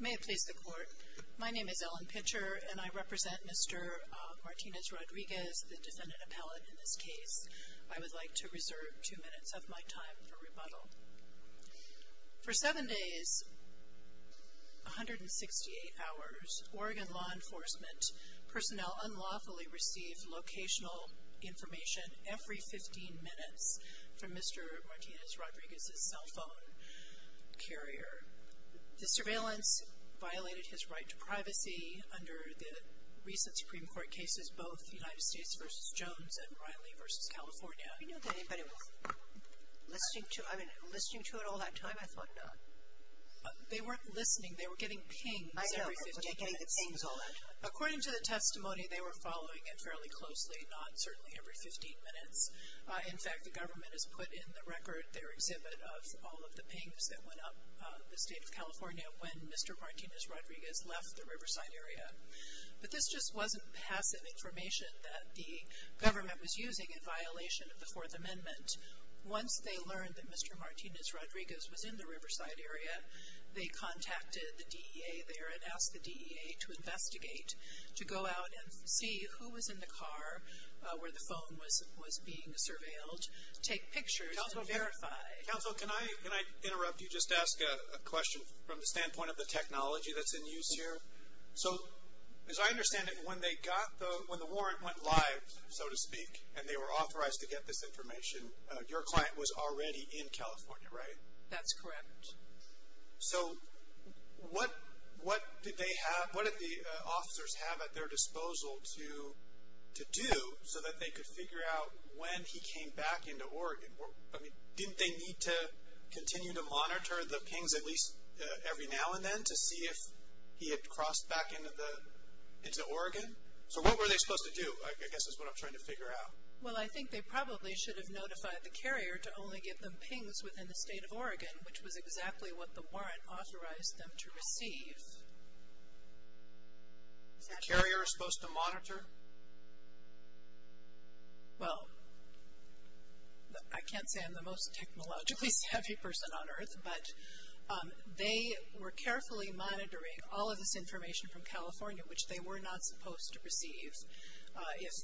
May it please the Court, my name is Ellen Pitcher and I represent Mr. Martinez-Rodriguez, the defendant appellate in this case. I would like to reserve 2 minutes of my time for rebuttal. For 7 days, 168 hours, Oregon law enforcement personnel unlawfully received locational information every 15 minutes from Mr. Martinez-Rodriguez's cell phone carrier. The surveillance violated his right to privacy under the recent Supreme Court cases, both United States v. Jones and Riley v. California. I didn't know that anybody was listening to it all that time, I thought not. They weren't listening, they were giving pings every 15 minutes. According to the testimony, they were following it fairly closely, not certainly every 15 minutes. In fact, the government has put in the record their exhibit of all of the pings that went up the state of California when Mr. Martinez-Rodriguez left the Riverside area. But this just wasn't passive information that the government was using in violation of the Fourth Amendment. Once they learned that Mr. Martinez-Rodriguez was in the Riverside area, they contacted the DEA there and asked the DEA to investigate, to go out and see who was in the car where the phone was being surveilled, take pictures and verify. Counsel, can I interrupt you? Just ask a question from the standpoint of the technology that's in use here. So as I understand it, when the warrant went live, so to speak, and they were authorized to get this information, your client was already in California, right? That's correct. So what did they have, what did the officers have at their disposal to do so that they could figure out when he came back into Oregon? Didn't they need to continue to monitor the pings at least every now and then to see if he had crossed back into Oregon? So what were they supposed to do, I guess is what I'm trying to figure out. Well, I think they probably should have notified the carrier to only give them pings within the state of Oregon, which was exactly what the warrant authorized them to receive. Is the carrier supposed to monitor? Well, I can't say I'm the most technologically savvy person on earth, but they were carefully monitoring all of this information from California, which they were not supposed to receive. If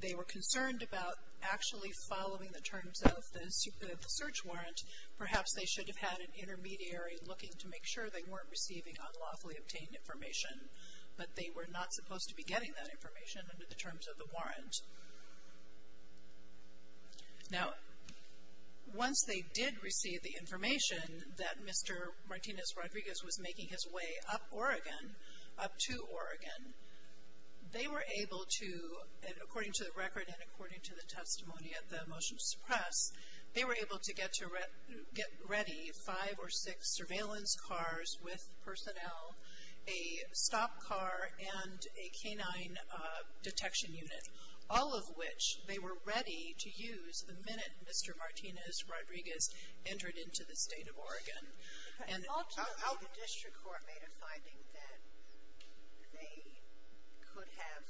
they were concerned about actually following the terms of the search warrant, perhaps they should have had an intermediary looking to make sure they weren't receiving unlawfully obtained information, but they were not supposed to be getting that information under the terms of the warrant. Now, once they did receive the information that Mr. Martinez Rodriguez was making his way up Oregon, up to Oregon, they were able to, according to the record and according to the testimony of the motion to suppress, they were able to get ready five or six surveillance cars with personnel, a stop car, and a canine detection unit, all of which they were ready to use the minute Mr. Martinez Rodriguez entered into the state of Oregon. The district court made a finding that they could have a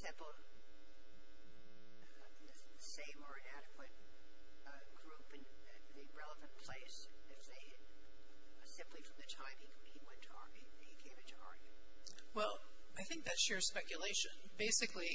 simple, same or inadequate group in a relevant place simply from the time he came into Oregon. Well, I think that's sheer speculation. Basically,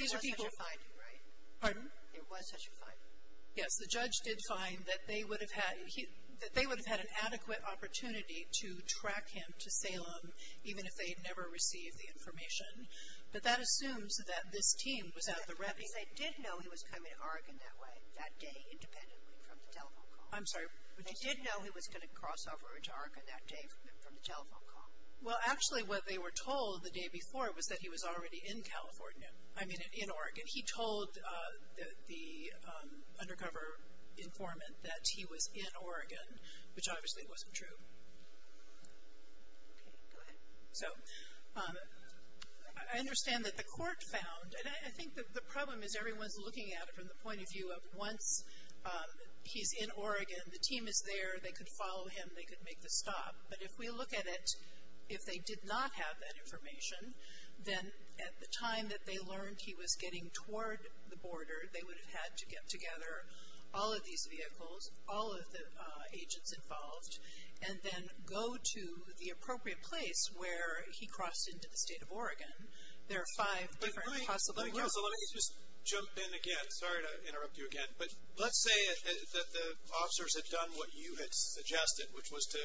these are people. There was such a finding, right? Pardon? There was such a finding. Yes, the judge did find that they would have had an adequate opportunity to track him to Salem, even if they had never received the information. But that assumes that this team was out of the ready. Because they did know he was coming to Oregon that way, that day, independently from the telephone call. I'm sorry. They did know he was going to cross over into Oregon that day from the telephone call. Well, actually, what they were told the day before was that he was already in California, I mean, in Oregon. And he told the undercover informant that he was in Oregon, which obviously wasn't true. So, I understand that the court found, and I think the problem is everyone's looking at it from the point of view of once he's in Oregon, the team is there, they could follow him, they could make the stop. But if we look at it, if they did not have that information, then at the time that they learned he was getting toward the border, they would have had to get together all of these vehicles, all of the agents involved, and then go to the appropriate place where he crossed into the state of Oregon. There are five different possible routes. Let me just jump in again. Sorry to interrupt you again. But let's say that the officers had done what you had suggested, which was to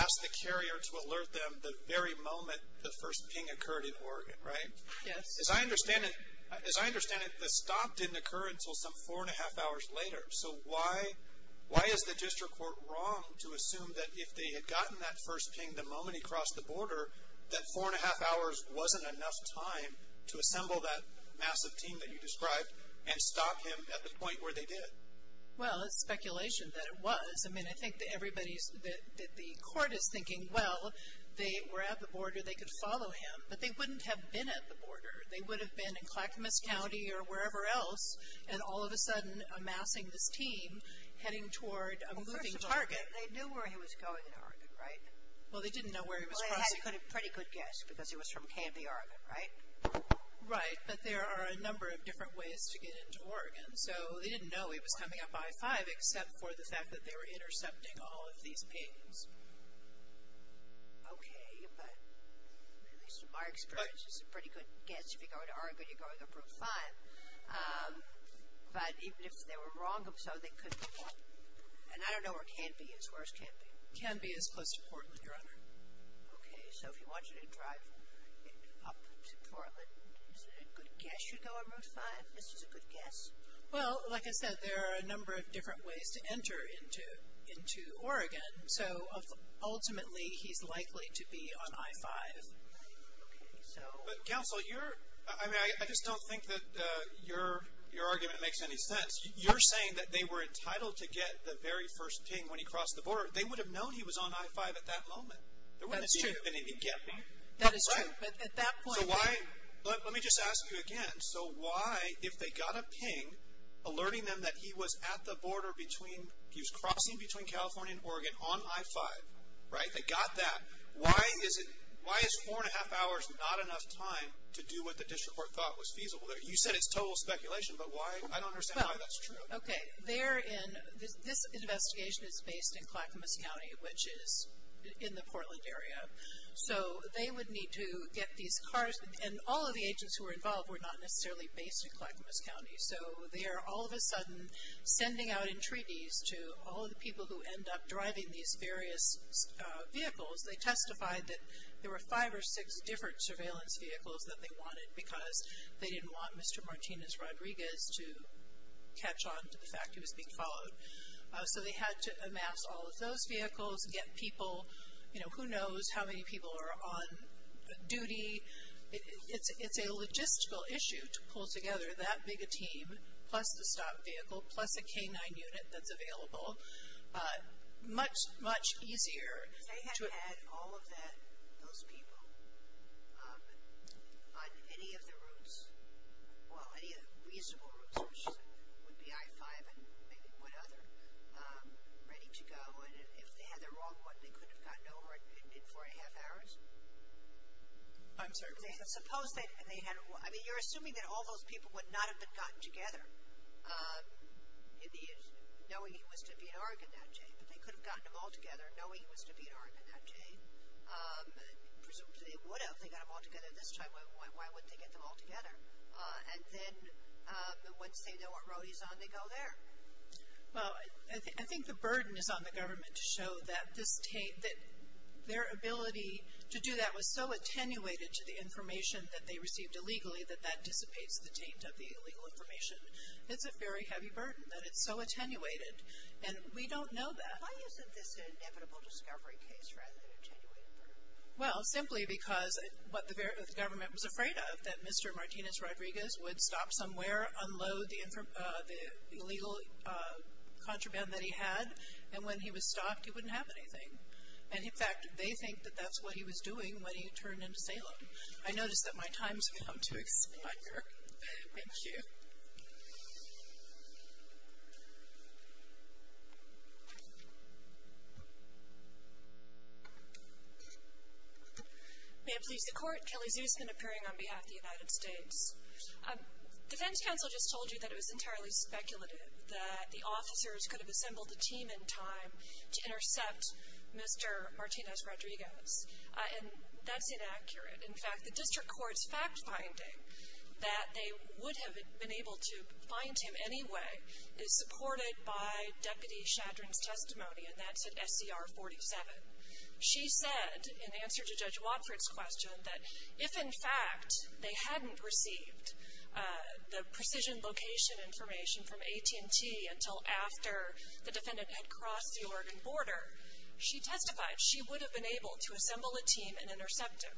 ask the carrier to alert them the very moment the first ping occurred in Oregon, right? Yes. As I understand it, the stop didn't occur until some four and a half hours later. So, why is the district court wrong to assume that if they had gotten that first ping the moment he crossed the border, that four and a half hours wasn't enough time to assemble that massive team that you described and stop him at the point where they did? Well, it's speculation that it was. I mean, I think that everybody's, that the court is thinking, well, they were at the border. They could follow him. But they wouldn't have been at the border. They would have been in Clackamas County or wherever else, and all of a sudden amassing this team heading toward a moving target. Well, first of all, they knew where he was going in Oregon, right? Well, they didn't know where he was crossing. Well, they had a pretty good guess because he was from Campy, Oregon, right? Right. But there are a number of different ways to get into Oregon. So, they didn't know he was coming up I-5 except for the fact that they were intercepting all of these pings. Okay. But at least in my experience, it's a pretty good guess. If you're going to Oregon, you're going to Route 5. But even if they were wrong, so they couldn't have gone. And I don't know where Campy is. Where's Campy? Campy is close to Portland, Your Honor. Okay. So, if you wanted to drive up to Portland, is it a good guess you'd go on Route 5? Is this a good guess? Well, like I said, there are a number of different ways to enter into Oregon. So, ultimately, he's likely to be on I-5. Okay. But, counsel, I just don't think that your argument makes any sense. You're saying that they were entitled to get the very first ping when he crossed the border. They would have known he was on I-5 at that moment. That is true. They wouldn't have even been able to get there. That is true. But at that point. So, why? Let me just ask you again. So, why, if they got a ping alerting them that he was at the border between, he was crossing between California and Oregon on I-5, right? They got that. Why is four and a half hours not enough time to do what the district court thought was feasible? You said it's total speculation, but why? I don't understand why that's true. Okay. Therein, this investigation is based in Clackamas County, which is in the Portland area. So, they would need to get these cars, and all of the agents who were involved were not necessarily based in Clackamas County. So, they are all of a sudden sending out entreaties to all of the people who end up driving these various vehicles. They testified that there were five or six different surveillance vehicles that they wanted, because they didn't want Mr. Martinez Rodriguez to catch on to the fact he was being followed. So, they had to amass all of those vehicles, get people, you know, who knows how many people are on duty. It's a logistical issue to pull together that big a team, plus the stop vehicle, plus a K-9 unit that's available. Much, much easier. They had had all of those people on any of the routes, well, any reasonable routes, which would be I-5 and maybe one other, ready to go. And if they had the wrong one, they couldn't have gotten over it in four and a half hours? I'm sorry? Suppose they had, I mean, you're assuming that all those people would not have been gotten together, knowing he was to be in Oregon that day, but they could have gotten them all together knowing he was to be in Oregon that day. Presumably, they would have. They got them all together this time. Why wouldn't they get them all together? And then, once they know what road he's on, they go there. Well, I think the burden is on the government to show that their ability to do that was so attenuated to the information that they received illegally that that dissipates the taint of the illegal information. It's a very heavy burden that it's so attenuated. And we don't know that. Why isn't this an inevitable discovery case rather than an attenuated burden? Well, simply because what the government was afraid of, that Mr. Martinez Rodriguez would stop somewhere, unload the illegal contraband that he had, and when he was stopped, he wouldn't have anything. And, in fact, they think that that's what he was doing when he turned into Salem. I notice that my time has come to expire. Thank you. Thank you. May it please the Court, Kelly Zusman, appearing on behalf of the United States. Defense counsel just told you that it was entirely speculative that the officers could have assembled a team in time to intercept Mr. Martinez Rodriguez. And that's inaccurate. In fact, the district court's fact-finding that they would have been able to find him anyway is supported by Deputy Shadrin's testimony, and that's at SCR 47. She said, in answer to Judge Watford's question, that if, in fact, they hadn't received the precision location information from AT&T until after the defendant had crossed the Oregon border, she testified she would have been able to assemble a team and intercept him.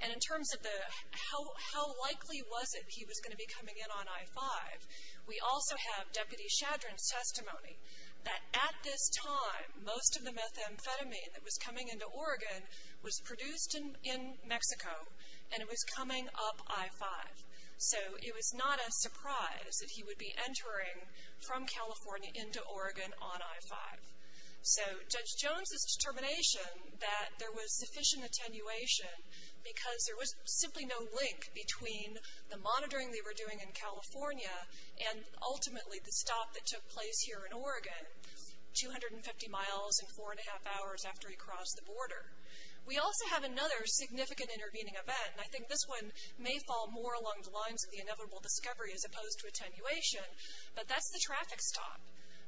And in terms of how likely was it he was going to be coming in on I-5, we also have Deputy Shadrin's testimony that, at this time, most of the methamphetamine that was coming into Oregon was produced in Mexico, and it was coming up I-5. So it was not a surprise that he would be entering from California into Oregon on I-5. So Judge Jones's determination that there was sufficient attenuation because there was simply no link between the monitoring they were doing in California and ultimately the stop that took place here in Oregon, 250 miles and four and a half hours after he crossed the border. We also have another significant intervening event, and I think this one may fall more along the lines of the inevitable discovery as opposed to attenuation, but that's the traffic stop.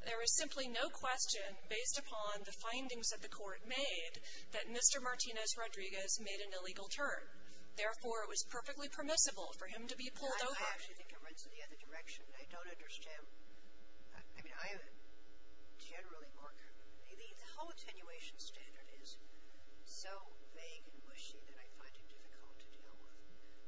There is simply no question, based upon the findings that the court made, that Mr. Martinez-Rodriguez made an illegal turn. Therefore, it was perfectly permissible for him to be pulled over. I actually think it runs in the other direction. I don't understand. I mean, I generally work. The whole attenuation standard is so vague and mushy that I find it difficult to deal with.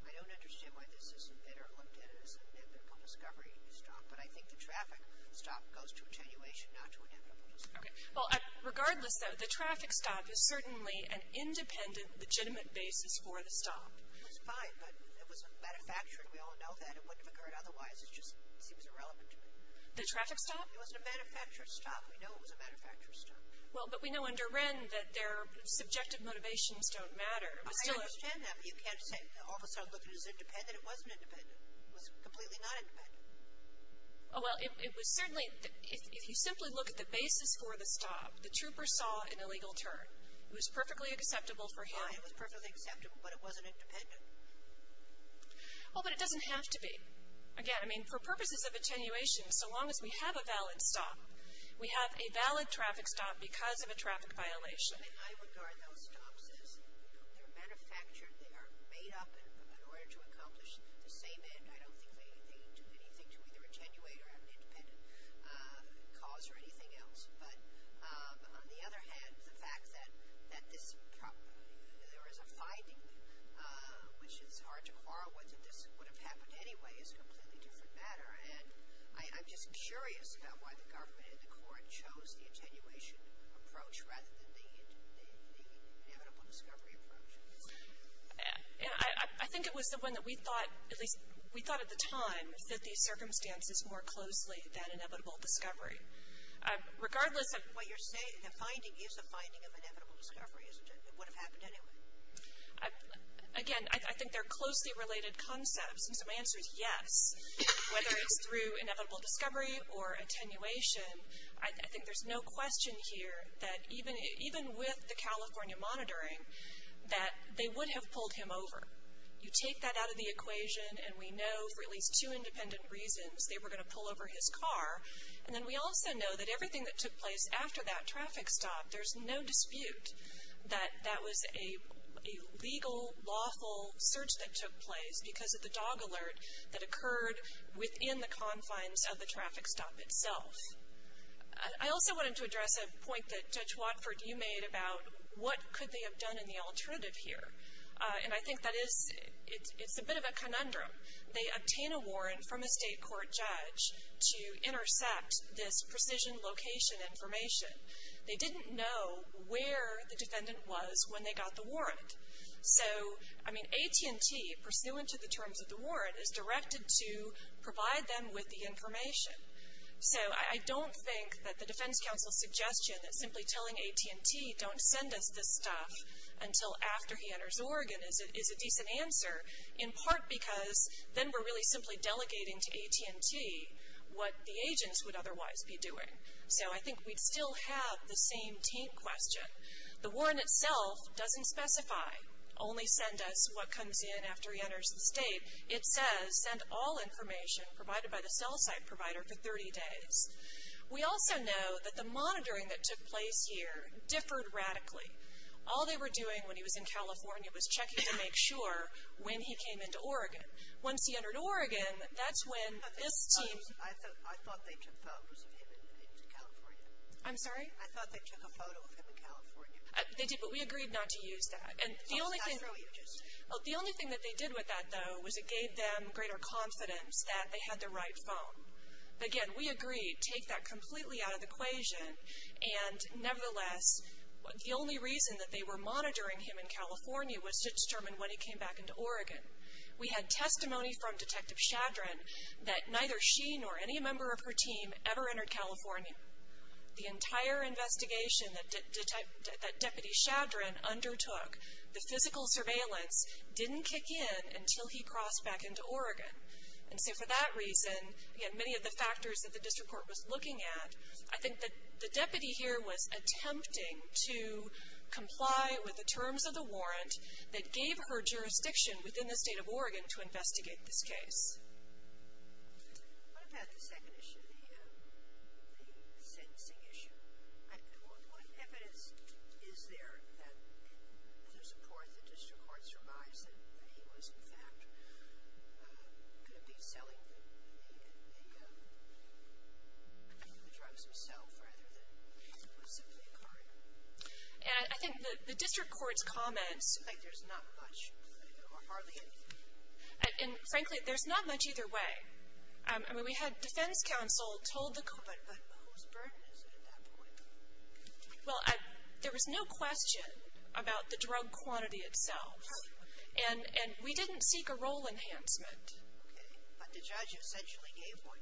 I don't understand why this isn't better looked at as an inevitable discovery stop, but I think the traffic stop goes to attenuation, not to inevitable discovery. Well, regardless, though, the traffic stop is certainly an independent, legitimate basis for the stop. It was fine, but it was manufactured. We all know that. It wouldn't have occurred otherwise. It just seems irrelevant to me. The traffic stop? It wasn't a manufactured stop. We know it was a manufactured stop. Well, but we know under Wren that their subjective motivations don't matter. I understand that, but you can't all of a sudden look at it as independent. I said it wasn't independent. It was completely not independent. Oh, well, it was certainly, if you simply look at the basis for the stop, the trooper saw an illegal turn. It was perfectly acceptable for him. It was perfectly acceptable, but it wasn't independent. Oh, but it doesn't have to be. Again, I mean, for purposes of attenuation, so long as we have a valid stop, we have a valid traffic stop because of a traffic violation. Something I regard those stops as, they're manufactured, they are made up in order to accomplish the same end. I don't think they do anything to either attenuate or have an independent cause or anything else. But on the other hand, the fact that there is a finding, which is hard to quarrel whether this would have happened anyway, is a completely different matter. And I'm just curious about why the government and the court chose the attenuation approach rather than the inevitable discovery approach. I think it was the one that we thought, at least we thought at the time, that these circumstances more closely than inevitable discovery. Regardless of what you're saying, the finding is a finding of inevitable discovery, isn't it? It would have happened anyway. Again, I think they're closely related concepts, and so my answer is yes. Whether it's through inevitable discovery or attenuation, I think there's no question here that even with the California monitoring, that they would have pulled him over. You take that out of the equation, and we know for at least two independent reasons they were going to pull over his car. And then we also know that everything that took place after that traffic stop, there's no dispute that that was a legal, lawful search that took place because of the dog alert that occurred within the confines of the traffic stop itself. I also wanted to address a point that Judge Watford, you made about what could they have done in the alternative here. And I think that it's a bit of a conundrum. They obtain a warrant from a state court judge to intercept this precision location information. So, I mean, AT&T, pursuant to the terms of the warrant, is directed to provide them with the information. So I don't think that the defense counsel's suggestion that simply telling AT&T don't send us this stuff until after he enters Oregon is a decent answer, in part because then we're really simply delegating to AT&T what the agents would otherwise be doing. So I think we'd still have the same team question. The warrant itself doesn't specify, only send us what comes in after he enters the state. It says send all information provided by the cell site provider for 30 days. We also know that the monitoring that took place here differed radically. All they were doing when he was in California was checking to make sure when he came into Oregon. Once he entered Oregon, that's when this team... I'm sorry? They did, but we agreed not to use that. The only thing that they did with that, though, was it gave them greater confidence that they had the right phone. Again, we agreed, take that completely out of the equation, and nevertheless, the only reason that they were monitoring him in California was to determine when he came back into Oregon. We had testimony from Detective Shadran that neither she nor any member of her team ever entered California. The entire investigation that Deputy Shadran undertook, the physical surveillance didn't kick in until he crossed back into Oregon. And so for that reason, again, many of the factors that the district court was looking at, I think that the deputy here was attempting to comply with the terms of the warrant that gave her jurisdiction within the state of Oregon to investigate this case. What about the second issue, the sentencing issue? What evidence is there to support that the district court surmised that he was, in fact, going to be selling the drugs himself, rather than it was simply a card? And I think the district court's comments... I think there's not much, hardly anything. And frankly, there's not much either way. I mean, we had defense counsel told the court... But whose burden is it at that point? Well, there was no question about the drug quantity itself. And we didn't seek a role enhancement. Okay, but the judge essentially gave one.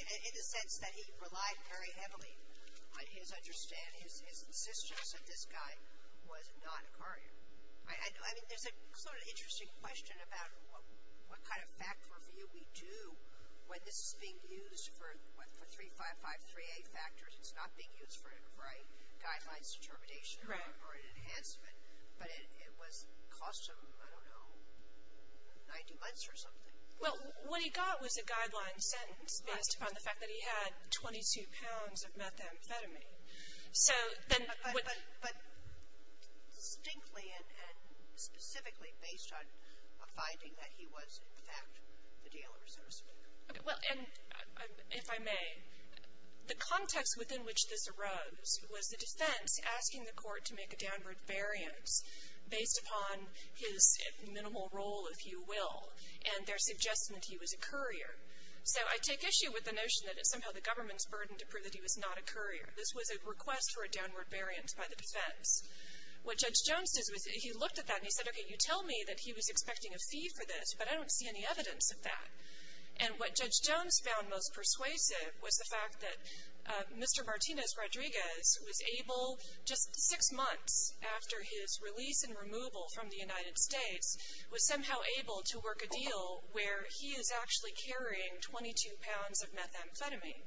In the sense that he relied very heavily on his understanding, his insistence that this guy was not a carrier. I mean, there's a sort of interesting question about what kind of fact review we do when this is being used for 3553A factors. It's not being used for a guidelines determination or an enhancement. But it cost him, I don't know, 90 months or something. Well, what he got was a guideline sentence based upon the fact that he had 22 pounds of methamphetamine. But distinctly and specifically based on a finding that he was in fact the dealer. Well, and if I may, the context within which this arose was the defense asking the court to make a downward variance based upon his minimal role, if you will, and their suggestion that he was a courier. So I take issue with the notion that it's somehow the government's burden to prove that he was not a courier. This was a request for a downward variance by the defense. What Judge Jones did was he looked at that and he said, okay, you tell me that he was expecting a fee for this, but I don't see any evidence of that. And what Judge Jones found most persuasive was the fact that Mr. Martinez Rodriguez was able, just six months after his release and removal from the United States, was somehow able to work a deal where he is actually carrying 22 pounds of methamphetamine.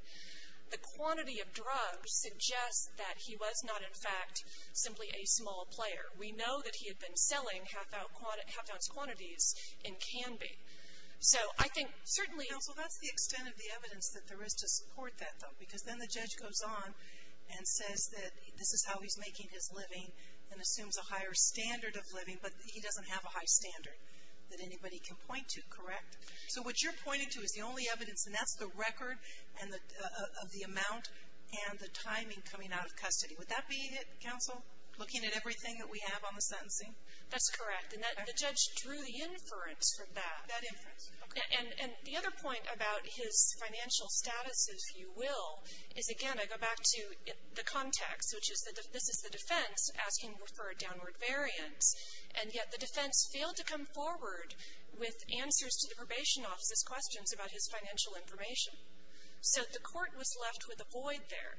The quantity of drugs suggests that he was not, in fact, simply a small player. We know that he had been selling half-ounce quantities in Canby. So I think certainly — Counsel, that's the extent of the evidence that there is to support that, though, because then the judge goes on and says that this is how he's making his living and assumes a higher standard of living, but he doesn't have a high standard that anybody can point to, correct? So what you're pointing to is the only evidence, and that's the record of the amount and the timing coming out of custody. Would that be it, Counsel, looking at everything that we have on the sentencing? That's correct. And the judge drew the inference from that. That inference? Okay. And the other point about his financial status, if you will, is, again, I go back to the context, which is that this is the defense asking for a downward variance, and yet the defense failed to come forward with answers to the probation office's questions about his financial information. So the court was left with a void there.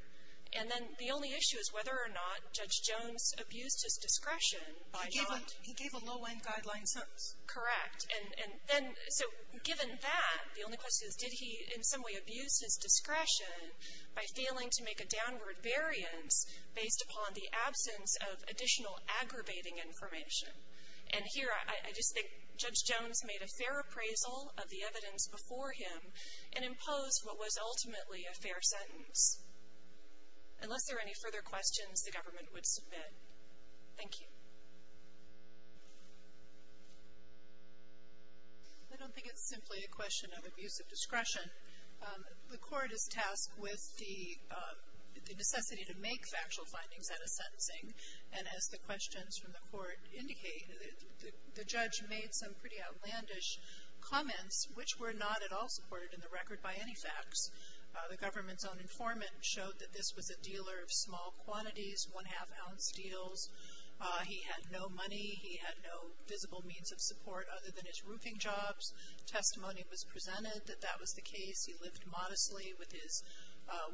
And then the only issue is whether or not Judge Jones abused his discretion by not — He gave a low-end guideline sentence. Correct. And then — so given that, the only question is, did he in some way abuse his discretion by failing to make a downward variance based upon the absence of additional aggravating information? And here, I just think Judge Jones made a fair appraisal of the evidence before him and imposed what was ultimately a fair sentence. Unless there are any further questions, the government would submit. Thank you. I don't think it's simply a question of abuse of discretion. The court is tasked with the necessity to make factual findings out of sentencing. And as the questions from the court indicate, the judge made some pretty outlandish comments, which were not at all supported in the record by any facts. The government's own informant showed that this was a dealer of small quantities, one-half-ounce deals. He had no money. He had no visible means of support other than his roofing jobs. Testimony was presented that that was the case. He lived modestly with his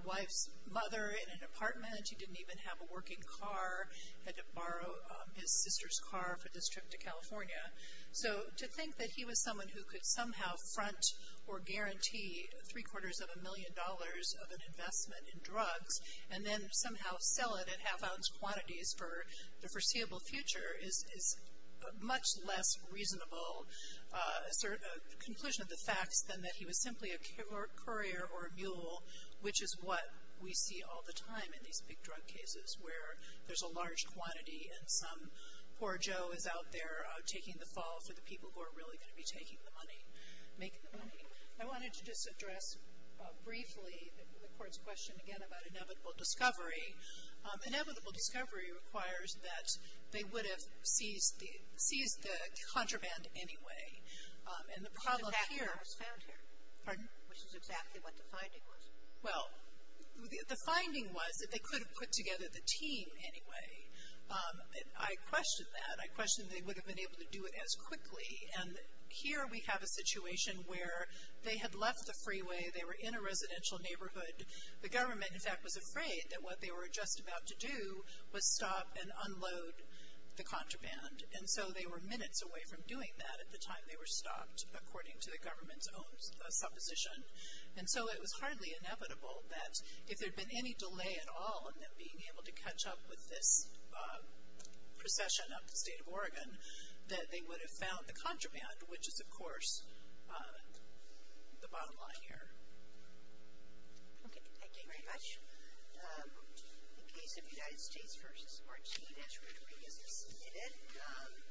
wife's mother in an apartment. He didn't even have a working car. He had to borrow his sister's car for this trip to California. So to think that he was someone who could somehow front or guarantee three-quarters of a million dollars of an investment in drugs and then somehow sell it in half-ounce quantities for the foreseeable future is a much less reasonable conclusion of the facts than that he was simply a courier or a mule, which is what we see all the time in these big drug cases, where there's a large quantity and some poor Joe is out there taking the fall for the people who are really going to be taking the money, making the money. I wanted to just address briefly the court's question again about inevitable discovery. Inevitable discovery requires that they would have seized the contraband anyway. And the problem here- Which is exactly what was found here. Pardon? Which is exactly what the finding was. Well, the finding was that they could have put together the team anyway. I question that. I question they would have been able to do it as quickly. And here we have a situation where they had left the freeway. They were in a residential neighborhood. The government, in fact, was afraid that what they were just about to do was stop and unload the contraband. And so they were minutes away from doing that at the time they were stopped, according to the government's own supposition. And so it was hardly inevitable that if there had been any delay at all in them being able to catch up with this procession up the state of Oregon, that they would have found the contraband, which is, of course, the bottom line here. Okay. Thank you very much. In case of United States v. Martinez, we're going to revisit this a minute.